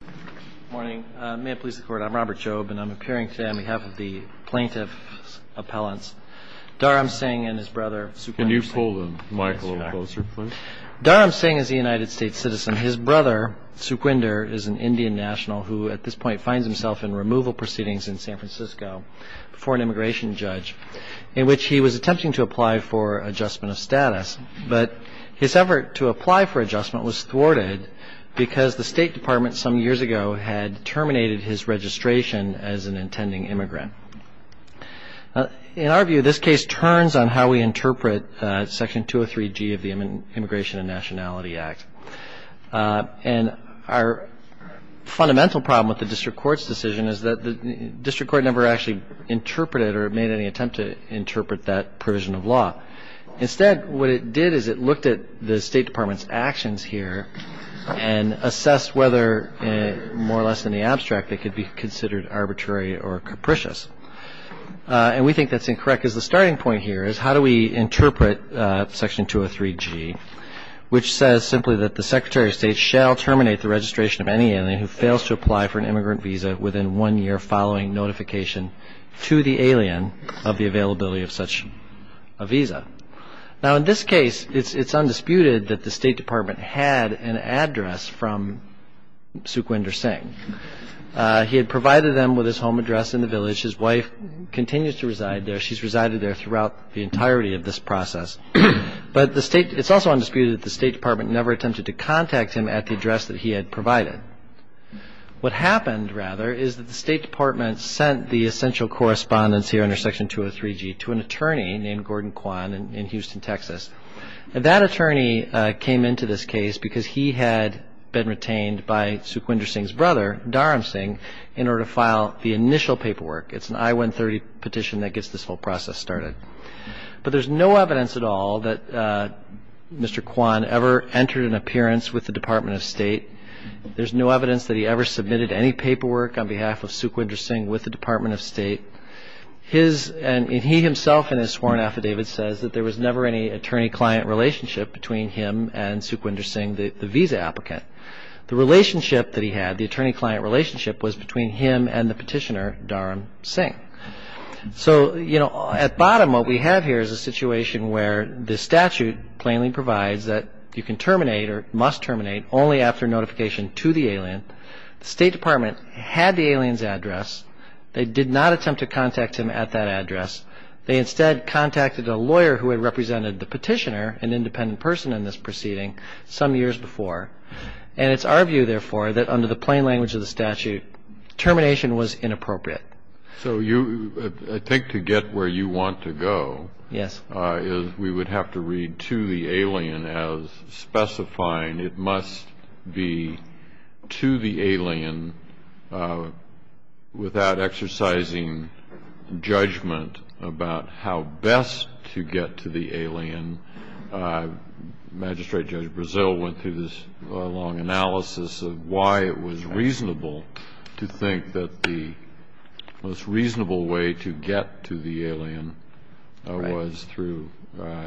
Good morning. May it please the Court, I'm Robert Jobe, and I'm appearing today on behalf of the plaintiff's appellants, Dharam Singh and his brother Sukhwinder Singh. Can you pull the mic a little closer, please? Dharam Singh is a United States citizen. His brother, Sukhwinder, is an Indian national who, at this point, finds himself in removal proceedings in San Francisco before an immigration judge in which he was attempting to apply for adjustment of status. But his effort to apply for adjustment was thwarted because the State Department some years ago had terminated his registration as an intending immigrant. In our view, this case turns on how we interpret Section 203G of the Immigration and Nationality Act. And our fundamental problem with the district court's decision is that the district court never actually interpreted or made any attempt to interpret that provision of law. Instead, what it did is it looked at the State Department's actions here and assessed whether, more or less in the abstract, it could be considered arbitrary or capricious. And we think that's incorrect because the starting point here is how do we interpret Section 203G, which says simply that the Secretary of State shall terminate the registration of any alien who fails to apply for an immigrant visa within one year following notification to the alien of the availability of such a visa. Now, in this case, it's undisputed that the State Department had an address from Sukhwinder Singh. He had provided them with his home address in the village. His wife continues to reside there. She's resided there throughout the entirety of this process. But it's also undisputed that the State Department never attempted to contact him at the address that he had provided. What happened, rather, is that the State Department sent the essential correspondence here under Section 203G to an attorney named Gordon Kwan in Houston, Texas. And that attorney came into this case because he had been retained by Sukhwinder Singh's brother, Dharam Singh, in order to file the initial paperwork. It's an I-130 petition that gets this whole process started. But there's no evidence at all that Mr. Kwan ever entered an appearance with the Department of State. There's no evidence that he ever submitted any paperwork on behalf of Sukhwinder Singh with the Department of State. And he himself in his sworn affidavit says that there was never any attorney-client relationship between him and Sukhwinder Singh, the visa applicant. The relationship that he had, the attorney-client relationship, was between him and the petitioner, Dharam Singh. So, at bottom, what we have here is a situation where the statute plainly provides that you can terminate or must terminate only after notification to the alien. The State Department had the alien's address. They did not attempt to contact him at that address. They instead contacted a lawyer who had represented the petitioner, an independent person in this proceeding, some years before. And it's our view, therefore, that under the plain language of the statute, termination was inappropriate. So I think to get where you want to go is we would have to read to the alien as specifying it must be to the alien without exercising judgment about how best to get to the alien. And Magistrate Judge Brazil went through this long analysis of why it was reasonable to think that the most reasonable way to get to the alien was through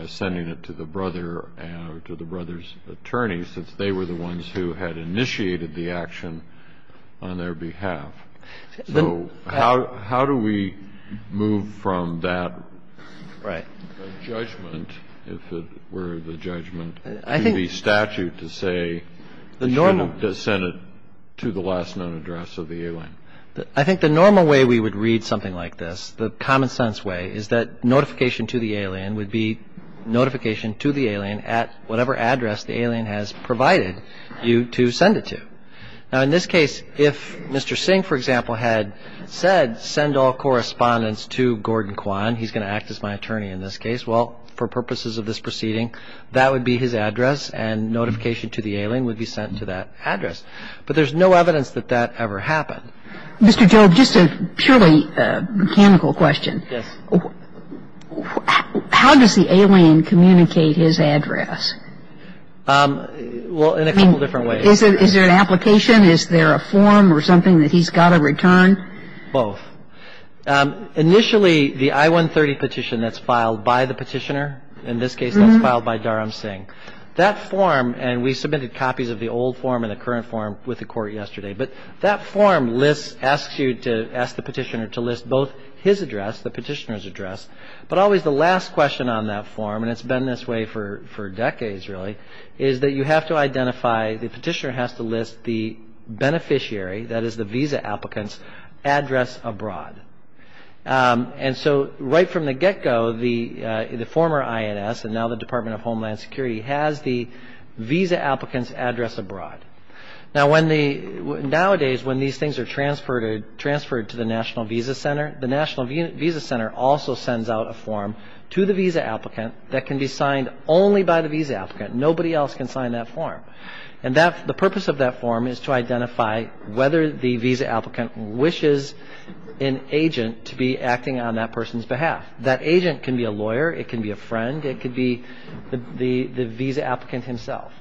sending it to the brother or to the brother's attorney since they were the ones who had initiated the action on their behalf. So how do we move from that judgment, if it were the judgment, to the statute to say you shouldn't have sent it to the last known address of the alien? I think the normal way we would read something like this, the common sense way, is that notification to the alien would be notification to the alien at whatever address the alien has provided you to send it to. Now, in this case, if Mr. Singh, for example, had said send all correspondence to Gordon Kwan, he's going to act as my attorney in this case, well, for purposes of this proceeding, that would be his address and notification to the alien would be sent to that address. But there's no evidence that that ever happened. Mr. Jobe, just a purely mechanical question. Yes. How does the alien communicate his address? Well, in a couple different ways. Is there an application? Is there a form or something that he's got to return? Both. Initially, the I-130 petition that's filed by the petitioner, in this case that's filed by Dharam Singh, that form, and we submitted copies of the old form and the current form with the Court yesterday, but that form lists, asks you to ask the petitioner to list both his address, the petitioner's address, but always the last question on that form, and it's been this way for decades, really, is that you have to identify, the petitioner has to list the beneficiary, that is the visa applicant's address abroad. And so right from the get-go, the former INS, and now the Department of Homeland Security, has the visa applicant's address abroad. Now, nowadays, when these things are transferred to the National Visa Center, the National Visa Center also sends out a form to the visa applicant that can be signed only by the visa applicant. Nobody else can sign that form. And the purpose of that form is to identify whether the visa applicant wishes an agent to be acting on that person's behalf. That agent can be a lawyer, it can be a friend, it could be the visa applicant himself.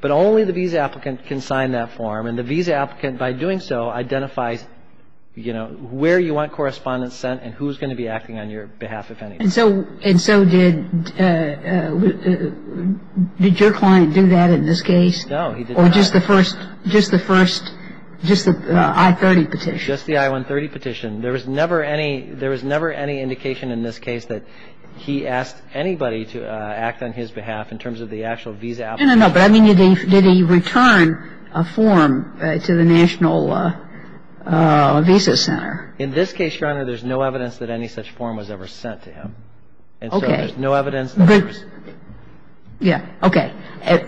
But only the visa applicant can sign that form, and the visa applicant, by doing so, identifies, you know, where you want correspondence sent and who's going to be acting on your behalf, if any. And so did your client do that in this case? No, he did not. Or just the first, just the first, just the I-30 petition? Just the I-130 petition. There was never any indication in this case that he asked anybody to act on his behalf, in terms of the actual visa applicant. No, no, no. But I mean, did he return a form to the National Visa Center? In this case, Your Honor, there's no evidence that any such form was ever sent to him. Okay. And so there's no evidence that there was. Yeah. Okay. But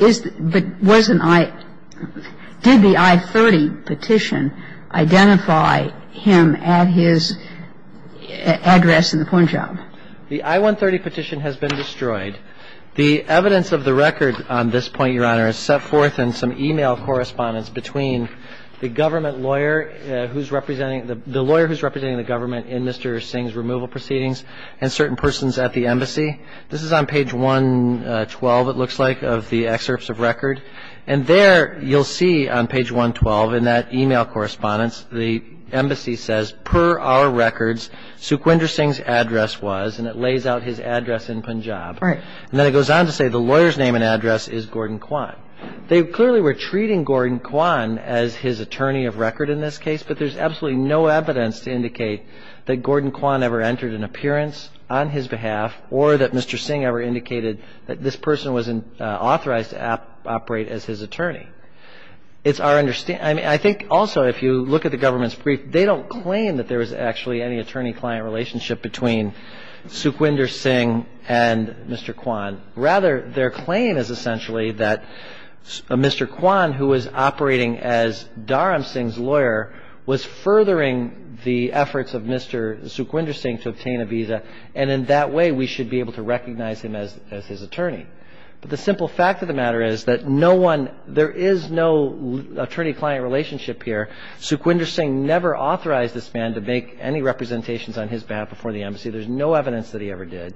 is the – but was an I – did the I-30 petition identify him at his address in the porn job? The I-130 petition has been destroyed. The evidence of the record on this point, Your Honor, is set forth in some e-mail correspondence between the government lawyer who's representing – the lawyer who's representing the government in Mr. Singh's removal proceedings and certain persons at the embassy. This is on page 112, it looks like, of the excerpts of record. And there you'll see on page 112 in that e-mail correspondence, the embassy says, per our records, Sukhwinder Singh's address was, and it lays out his address in Punjab. Right. And then it goes on to say the lawyer's name and address is Gordon Kwan. They clearly were treating Gordon Kwan as his attorney of record in this case, but there's absolutely no evidence to indicate that Gordon Kwan ever entered an appearance on his behalf or that Mr. Singh ever indicated that this person was authorized to operate as his attorney. It's our – I mean, I think also if you look at the government's brief, they don't claim that there was actually any attorney-client relationship between Sukhwinder Singh and Mr. Kwan. Rather, their claim is essentially that Mr. Kwan, who was operating as Dharam Singh's lawyer, was furthering the efforts of Mr. Sukhwinder Singh to obtain a visa, and in that way we should be able to recognize him as his attorney. But the simple fact of the matter is that no one – there is no attorney-client relationship here. Sukhwinder Singh never authorized this man to make any representations on his behalf before the embassy. There's no evidence that he ever did.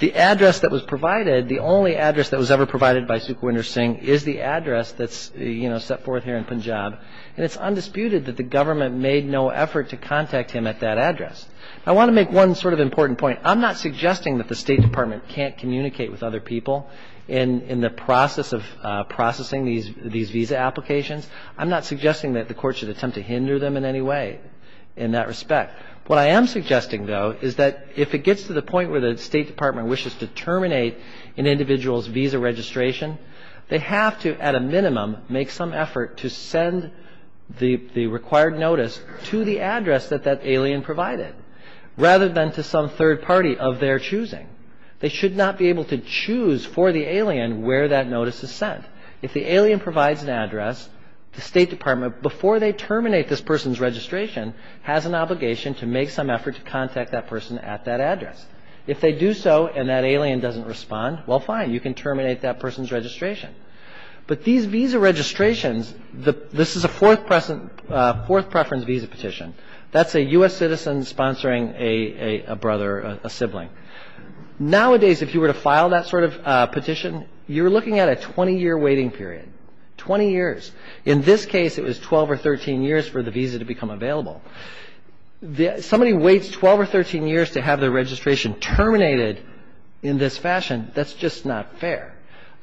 The address that was provided, the only address that was ever provided by Sukhwinder Singh, is the address that's, you know, set forth here in Punjab, and it's undisputed that the government made no effort to contact him at that address. I want to make one sort of important point. I'm not suggesting that the State Department can't communicate with other people in the process of processing these visa applications. I'm not suggesting that the Court should attempt to hinder them in any way in that respect. What I am suggesting, though, is that if it gets to the point where the State Department wishes to terminate an individual's visa registration, they have to, at a minimum, make some effort to send the required notice to the address that that alien provided, rather than to some third party of their choosing. They should not be able to choose for the alien where that notice is sent. If the alien provides an address, the State Department, before they terminate this person's registration, has an obligation to make some effort to contact that person at that address. If they do so and that alien doesn't respond, well, fine, you can terminate that person's registration. But these visa registrations, this is a fourth preference visa petition. That's a U.S. citizen sponsoring a brother, a sibling. Nowadays, if you were to file that sort of petition, you're looking at a 20-year waiting period, 20 years. In this case, it was 12 or 13 years for the visa to become available. Somebody waits 12 or 13 years to have their registration terminated in this fashion, that's just not fair.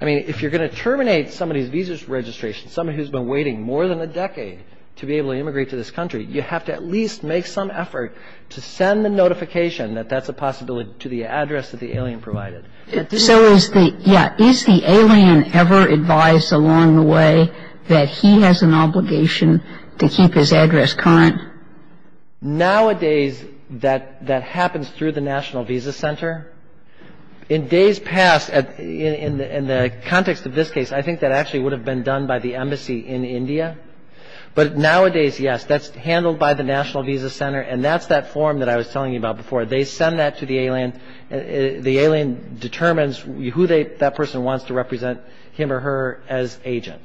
I mean, if you're going to terminate somebody's visa registration, somebody who's been waiting more than a decade to be able to immigrate to this country, you have to at least make some effort to send the notification that that's a possibility to the address that the alien provided. Kagan. So is the, yeah, is the alien ever advised along the way that he has an obligation to keep his address current? Nowadays, that happens through the National Visa Center. In days past, in the context of this case, I think that actually would have been done by the embassy in India. But nowadays, yes, that's handled by the National Visa Center, and that's that form that I was telling you about before. They send that to the alien. The alien determines who they, that person wants to represent him or her as agent.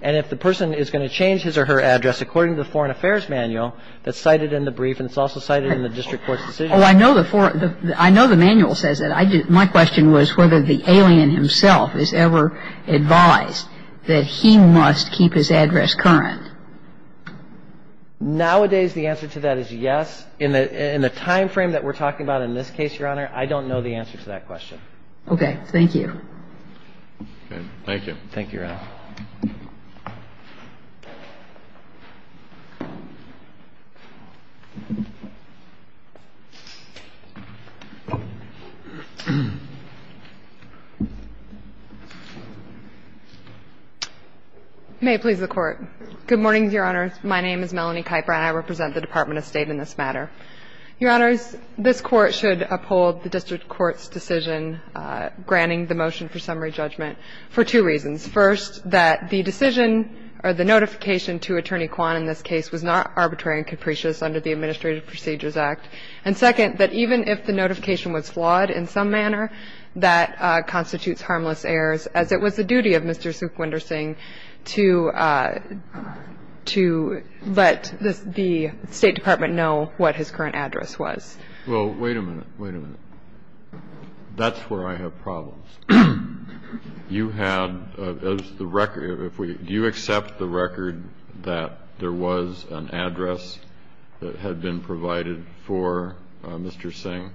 And if the person is going to change his or her address according to the Foreign Affairs Manual that's cited in the brief and it's also cited in the district court's decision. Oh, I know the Foreign, I know the manual says that. My question was whether the alien himself is ever advised that he must keep his address current. Nowadays, the answer to that is yes. In the timeframe that we're talking about in this case, Your Honor, I don't know the answer to that question. Okay. Thank you. Okay. Thank you. Thank you, Your Honor. May it please the Court. Good morning, Your Honor. My name is Melanie Kuyper, and I represent the Department of State in this matter. Your Honors, this Court should uphold the district court's decision granting the motion for summary judgment for two reasons. First, that the decision or the notification to Attorney Quan in this case was not arbitrary and capricious under the Administrative Procedures Act. And second, that even if the notification was flawed in some manner, that constitutes harmless errors, as it was the duty of Mr. Sukhwinder Singh to let the State Department know what his current address was. Well, wait a minute. Wait a minute. That's where I have problems. You had the record. Do you accept the record that there was an address that had been provided for Mr. Singh?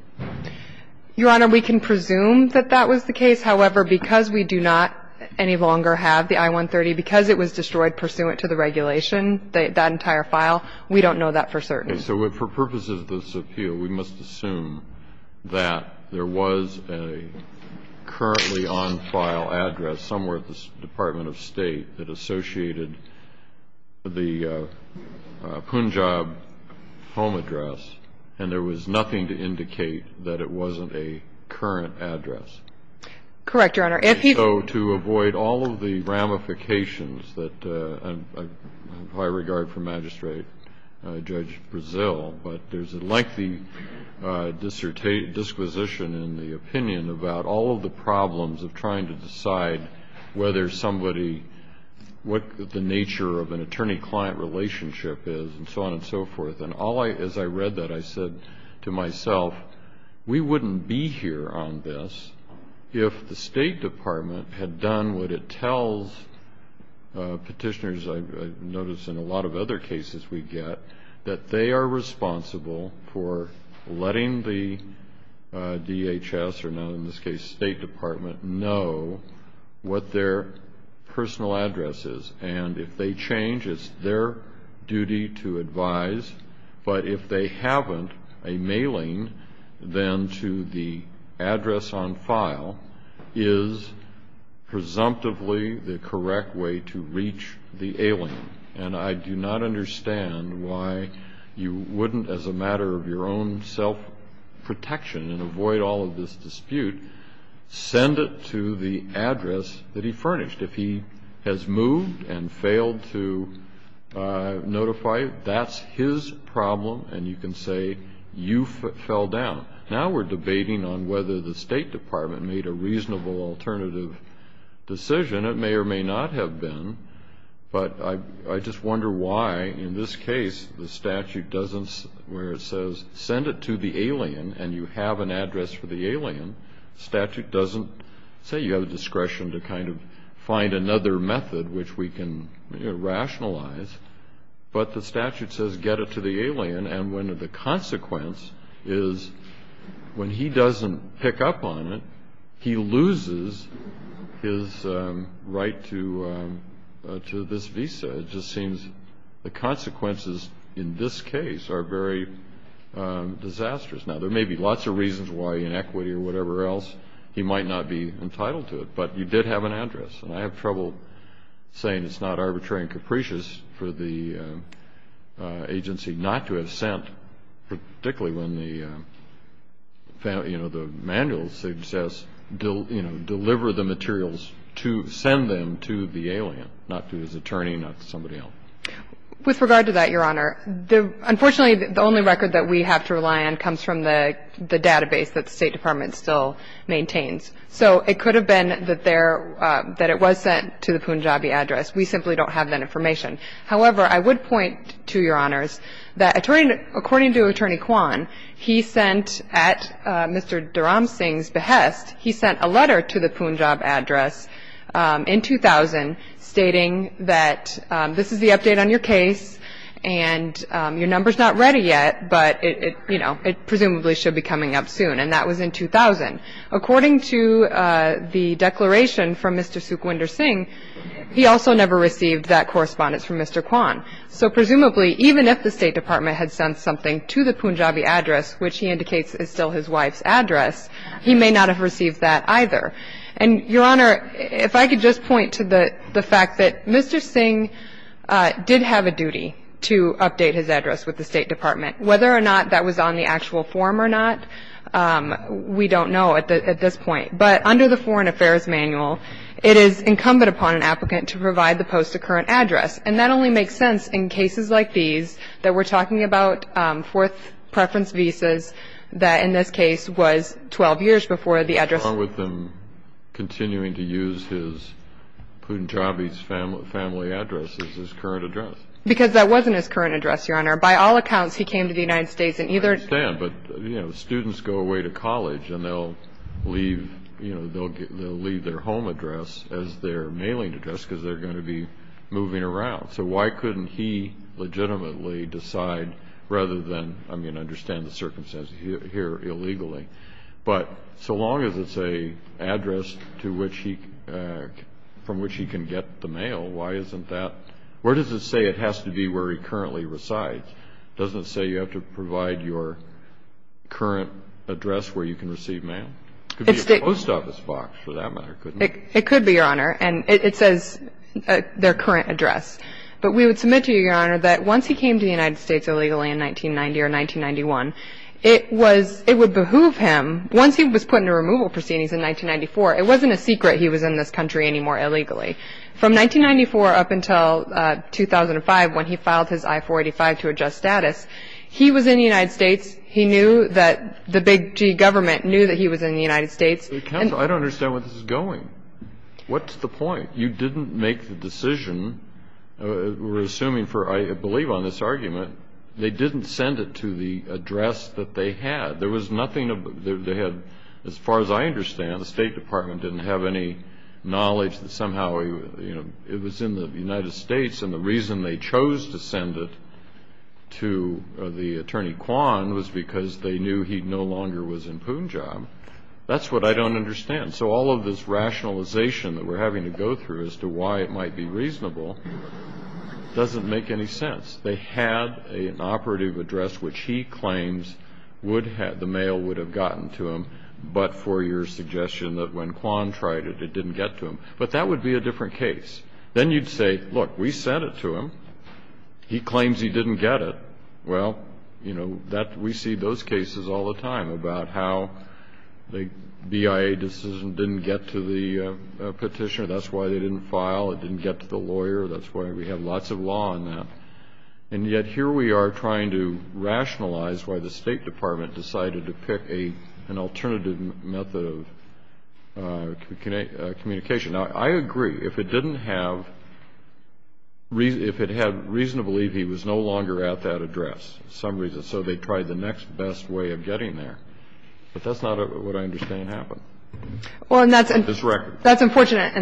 Your Honor, we can presume that that was the case. However, because we do not any longer have the I-130, because it was destroyed pursuant to the regulation, that entire file, we don't know that for certain. Okay. So for purposes of this appeal, we must assume that there was a currently on-file address somewhere at the Department of State that associated the Punjab home address, and there was nothing to indicate that it wasn't a current address. Correct, Your Honor. And so to avoid all of the ramifications that I have high regard for Magistrate Judge Brezil, but there's a lengthy disquisition in the opinion about all of the problems of trying to decide whether somebody, what the nature of an attorney-client relationship is and so on and so forth. And as I read that, I said to myself, we wouldn't be here on this if the State Department had done what it tells petitioners, I've noticed in a lot of other cases we get, that they are responsible for letting the DHS, or now in this case State Department, know what their personal address is. And if they change, it's their duty to advise. But if they haven't, a mailing then to the address on file is presumptively the correct way to reach the alien. And I do not understand why you wouldn't, as a matter of your own self-protection and avoid all of this dispute, send it to the address that he furnished. If he has moved and failed to notify, that's his problem and you can say you fell down. Now we're debating on whether the State Department made a reasonable alternative decision. It may or may not have been, but I just wonder why in this case the statute doesn't, where it says send it to the alien and you have an address for the alien, the statute doesn't say you have a discretion to kind of find another method which we can rationalize, but the statute says get it to the alien and when the consequence is when he doesn't pick up on it, he loses his right to this visa. It just seems the consequences in this case are very disastrous. Now there may be lots of reasons why in equity or whatever else he might not be entitled to it, but you did have an address. And I have trouble saying it's not arbitrary and capricious for the agency not to have sent, particularly when the manual says deliver the materials to send them to the alien, not to his attorney, not to somebody else. With regard to that, Your Honor, unfortunately the only record that we have to rely on comes from the database that the State Department still maintains. So it could have been that there, that it was sent to the Punjabi address. We simply don't have that information. However, I would point to, Your Honors, that according to Attorney Kwan, he sent at Mr. in 2000 stating that this is the update on your case and your number's not ready yet, but it presumably should be coming up soon, and that was in 2000. According to the declaration from Mr. Sukhwinder Singh, he also never received that correspondence from Mr. Kwan. So presumably even if the State Department had sent something to the Punjabi address, which he indicates is still his wife's address, he may not have received that either. And, Your Honor, if I could just point to the fact that Mr. Singh did have a duty to update his address with the State Department. Whether or not that was on the actual form or not, we don't know at this point. But under the Foreign Affairs Manual, it is incumbent upon an applicant to provide the post-occurrent address. And that only makes sense in cases like these that we're talking about fourth preference visas that in this case was 12 years before the address. What's wrong with him continuing to use his Punjabi family address as his current address? Because that wasn't his current address, Your Honor. By all accounts, he came to the United States in either. I understand, but, you know, students go away to college, and they'll leave their home address as their mailing address because they're going to be moving around. So why couldn't he legitimately decide rather than, I mean, understand the circumstances here illegally? But so long as it's an address from which he can get the mail, why isn't that? Where does it say it has to be where he currently resides? It doesn't say you have to provide your current address where you can receive mail? It could be a post office box for that matter, couldn't it? It could be, Your Honor. And it says their current address. But we would submit to you, Your Honor, that once he came to the United States illegally in 1990 or 1991, it was ‑‑ it would behoove him, once he was put into removal proceedings in 1994, it wasn't a secret he was in this country anymore illegally. From 1994 up until 2005 when he filed his I-485 to adjust status, he was in the United States. He knew that the big G government knew that he was in the United States. Counsel, I don't understand where this is going. What's the point? You didn't make the decision. We're assuming for, I believe, on this argument, they didn't send it to the address that they had. There was nothing of ‑‑ they had, as far as I understand, the State Department didn't have any knowledge that somehow, you know, it was in the United States and the reason they chose to send it to the attorney, Kwan, was because they knew he no longer was in Punjab. That's what I don't understand. So all of this rationalization that we're having to go through as to why it might be reasonable doesn't make any sense. They had an operative address which he claims would have ‑‑ the mail would have gotten to him, but for your suggestion that when Kwan tried it, it didn't get to him. But that would be a different case. Then you'd say, look, we sent it to him. He claims he didn't get it. Well, you know, we see those cases all the time about how the BIA decision didn't get to the petitioner. That's why they didn't file. It didn't get to the lawyer. That's why we have lots of law on that. And yet here we are trying to rationalize why the State Department decided to pick an alternative method of communication. Now, I agree. If it didn't have ‑‑ if it had reason to believe he was no longer at that address for some reason, so they tried the next best way of getting there. But that's not what I understand happened. Well, and that's ‑‑ On this record. That's unfortunate.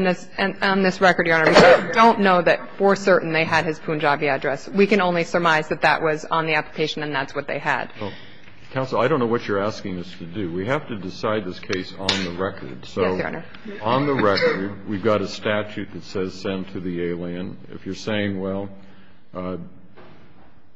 On this record, Your Honor, we don't know that for certain they had his Punjabi address. We can only surmise that that was on the application and that's what they had. Counsel, I don't know what you're asking us to do. We have to decide this case on the record. Yes, Your Honor. On the record, we've got a statute that says send to the alien. If you're saying, well,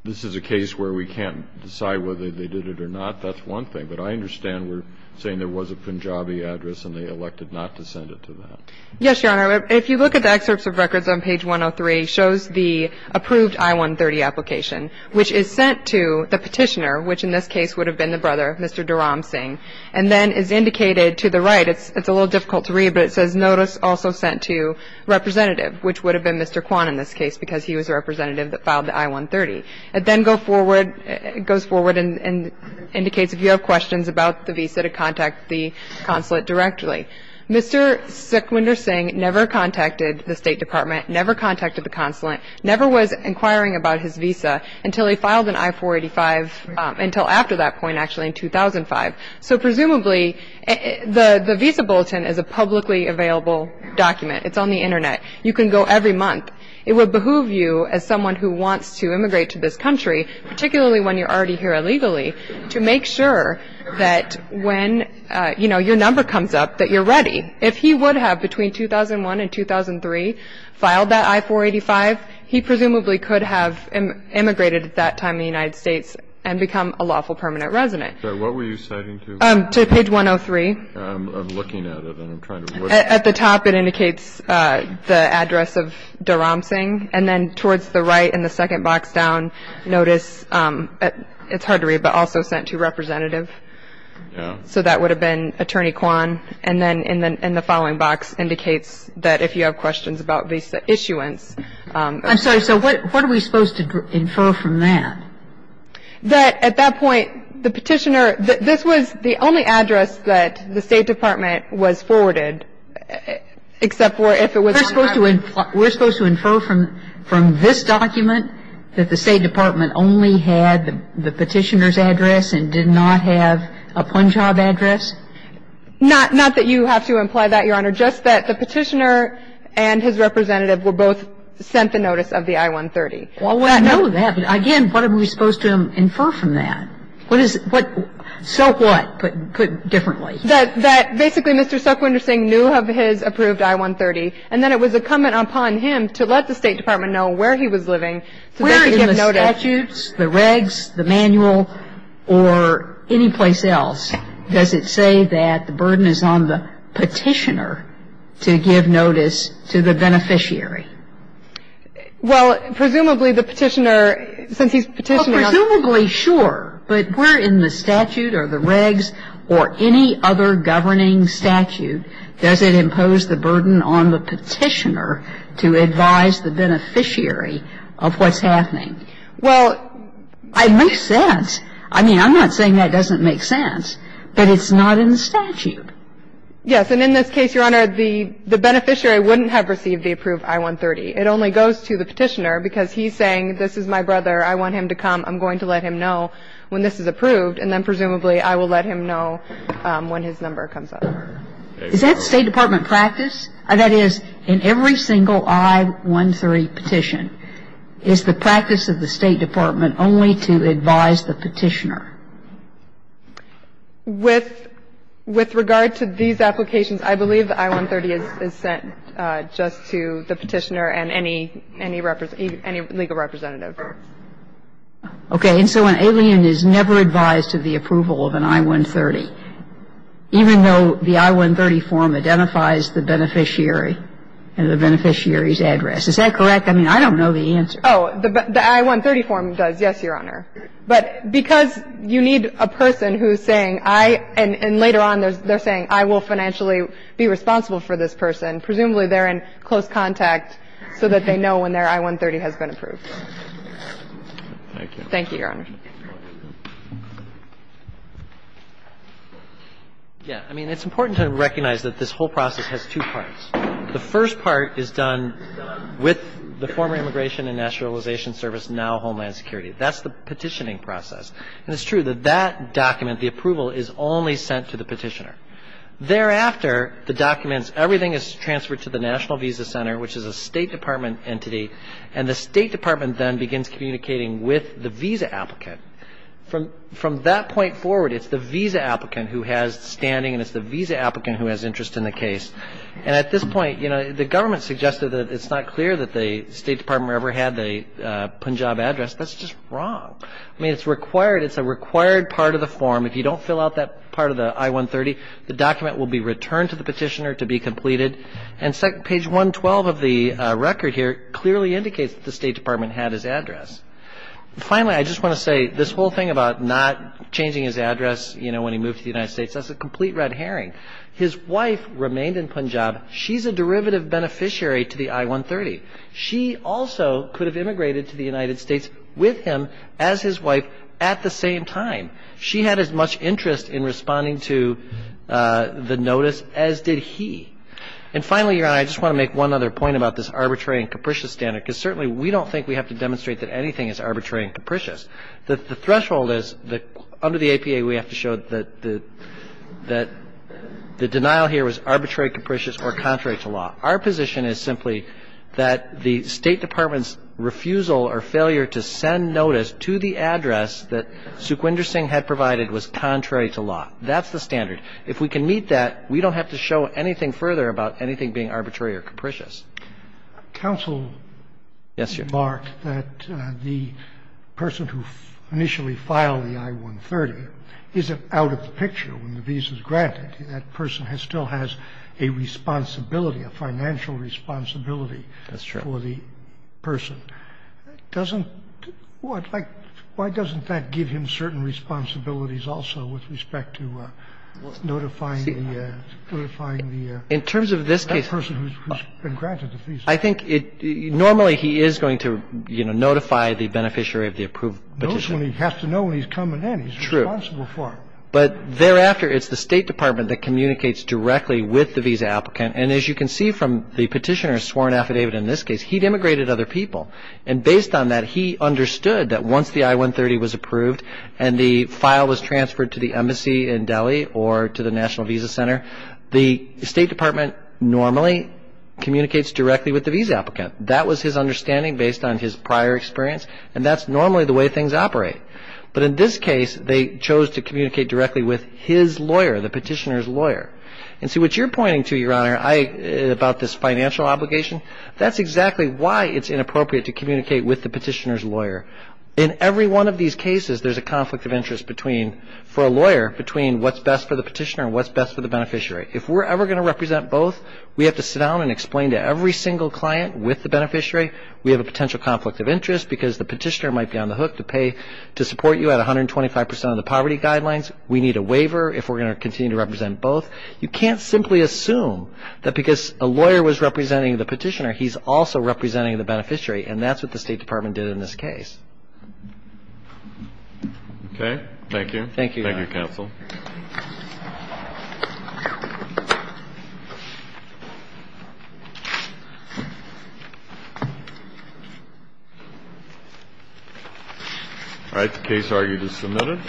this is a case where we can't decide whether they did it or not, that's one thing. But I understand we're saying there was a Punjabi address and they elected not to send it to them. Yes, Your Honor. If you look at the excerpts of records on page 103, it shows the approved I-130 application, which is sent to the petitioner, which in this case would have been the brother, Mr. Dharam Singh, and then is indicated to the right, it's a little difficult to read, but it says notice also sent to representative, which would have been Mr. Kwan in this case because he was a representative that filed the I-130. It then goes forward and indicates if you have questions about the visa to contact the consulate directly. Mr. Sikwinder Singh never contacted the State Department, never contacted the consulate, never was inquiring about his visa until he filed an I-485 until after that point actually in 2005. So presumably the visa bulletin is a publicly available document. It's on the Internet. You can go every month. It would behoove you as someone who wants to immigrate to this country, particularly when you're already here illegally, to make sure that when your number comes up that you're ready. If he would have between 2001 and 2003 filed that I-485, he presumably could have immigrated at that time in the United States and become a lawful permanent resident. So what were you citing to? To page 103. I'm looking at it and I'm trying to look. At the top it indicates the address of Dharam Singh, and then towards the right in the second box down notice, it's hard to read, but also sent to representative. Yeah. So that would have been Attorney Kwan. And then in the following box indicates that if you have questions about visa issuance. I'm sorry. So what are we supposed to infer from that? That at that point the petitioner, this was the only address that the State Department was forwarded except for if it was. We're supposed to infer from this document that the State Department only had the petitioner's address and did not have a Punjab address? Not that you have to imply that, Your Honor. Just that the petitioner and his representative were both sent the notice of the I-130. Well, I know that. But again, what are we supposed to infer from that? What is it? So what? Put differently. That basically Mr. Sukwinder Singh knew of his approved I-130, and then it was incumbent upon him to let the State Department know where he was living. Where in the statutes, the regs, the manual, or anyplace else does it say that the burden is on the petitioner to give notice to the beneficiary? Well, presumably the petitioner, since he's petitioning on it. Well, presumably, sure. But where in the statute or the regs or any other governing statute does it impose the burden on the petitioner to advise the beneficiary of what's happening? Well, it makes sense. I mean, I'm not saying that doesn't make sense, but it's not in the statute. Yes. And in this case, Your Honor, the beneficiary wouldn't have received the approved I-130. It only goes to the petitioner because he's saying this is my brother, I want him to come, I'm going to let him know when this is approved, and then presumably I will let him know when his number comes up. So is that State Department practice? That is, in every single I-130 petition, is the practice of the State Department only to advise the petitioner? With regard to these applications, I believe the I-130 is sent just to the petitioner and any legal representative. Okay. And so an alien is never advised to the approval of an I-130, even though the I-130 form identifies the beneficiary and the beneficiary's address. Is that correct? I mean, I don't know the answer. Oh, the I-130 form does, yes, Your Honor. But because you need a person who's saying, I, and later on they're saying, I will financially be responsible for this person, presumably they're in close contact so that they know when their I-130 has been approved. Thank you. Thank you, Your Honor. Yeah. I mean, it's important to recognize that this whole process has two parts. The first part is done with the former Immigration and Nationalization Service, now Homeland Security. That's the petitioning process. And it's true that that document, the approval, is only sent to the petitioner. Thereafter, the documents, everything is transferred to the National Visa Center, which is a State Department entity. And the State Department then begins communicating with the visa applicant. From that point forward, it's the visa applicant who has standing and it's the visa applicant who has interest in the case. And at this point, you know, the government suggested that it's not clear that the State Department ever had the Punjab address. That's just wrong. I mean, it's required. It's a required part of the form. If you don't fill out that part of the I-130, the document will be returned to the petitioner to be completed. And page 112 of the record here clearly indicates that the State Department had his address. Finally, I just want to say this whole thing about not changing his address, you know, when he moved to the United States, that's a complete red herring. His wife remained in Punjab. She's a derivative beneficiary to the I-130. She also could have immigrated to the United States with him as his wife at the same time. She had as much interest in responding to the notice as did he. And finally, Your Honor, I just want to make one other point about this arbitrary and capricious standard because certainly we don't think we have to demonstrate that anything is arbitrary and capricious. The threshold is that under the APA, we have to show that the denial here was arbitrary, capricious, or contrary to law. Our position is simply that the State Department's refusal or failure to send notice to the address that Sukhwinder Singh had provided was contrary to law. That's the standard. If we can meet that, we don't have to show anything further about anything being arbitrary or capricious. Scalia. Counsel remarked that the person who initially filed the I-130 isn't out of the picture when the visa is granted. That person still has a responsibility, a financial responsibility for the person. Why doesn't that give him certain responsibilities also with respect to notifying the person who's been granted the visa? In terms of this case, I think normally he is going to, you know, notify the beneficiary of the approved petition. He has to know when he's coming in. He's responsible for it. True. But thereafter, it's the State Department that communicates directly with the visa applicant. And as you can see from the petitioner's sworn affidavit in this case, he'd immigrated other people. And based on that, he understood that once the I-130 was approved and the file was transferred to the embassy in Delhi or to the National Visa Center, the State Department normally communicates directly with the visa applicant. That was his understanding based on his prior experience. And that's normally the way things operate. But in this case, they chose to communicate directly with his lawyer, the petitioner's lawyer. And so what you're pointing to, Your Honor, about this financial obligation, that's exactly why it's inappropriate to communicate with the petitioner's lawyer. In every one of these cases, there's a conflict of interest between, for a lawyer, between what's best for the petitioner and what's best for the beneficiary. If we're ever going to represent both, we have to sit down and explain to every single client with the beneficiary, we have a potential conflict of interest because the petitioner might be on the hook to pay to support you at 125 percent of the poverty guidelines. We need a waiver if we're going to continue to represent both. You can't simply assume that because a lawyer was representing the petitioner, he's also representing the beneficiary. And that's what the State Department did in this case. Okay. Thank you. Thank you, Your Honor. Thank you, counsel. All right. The case argument is submitted.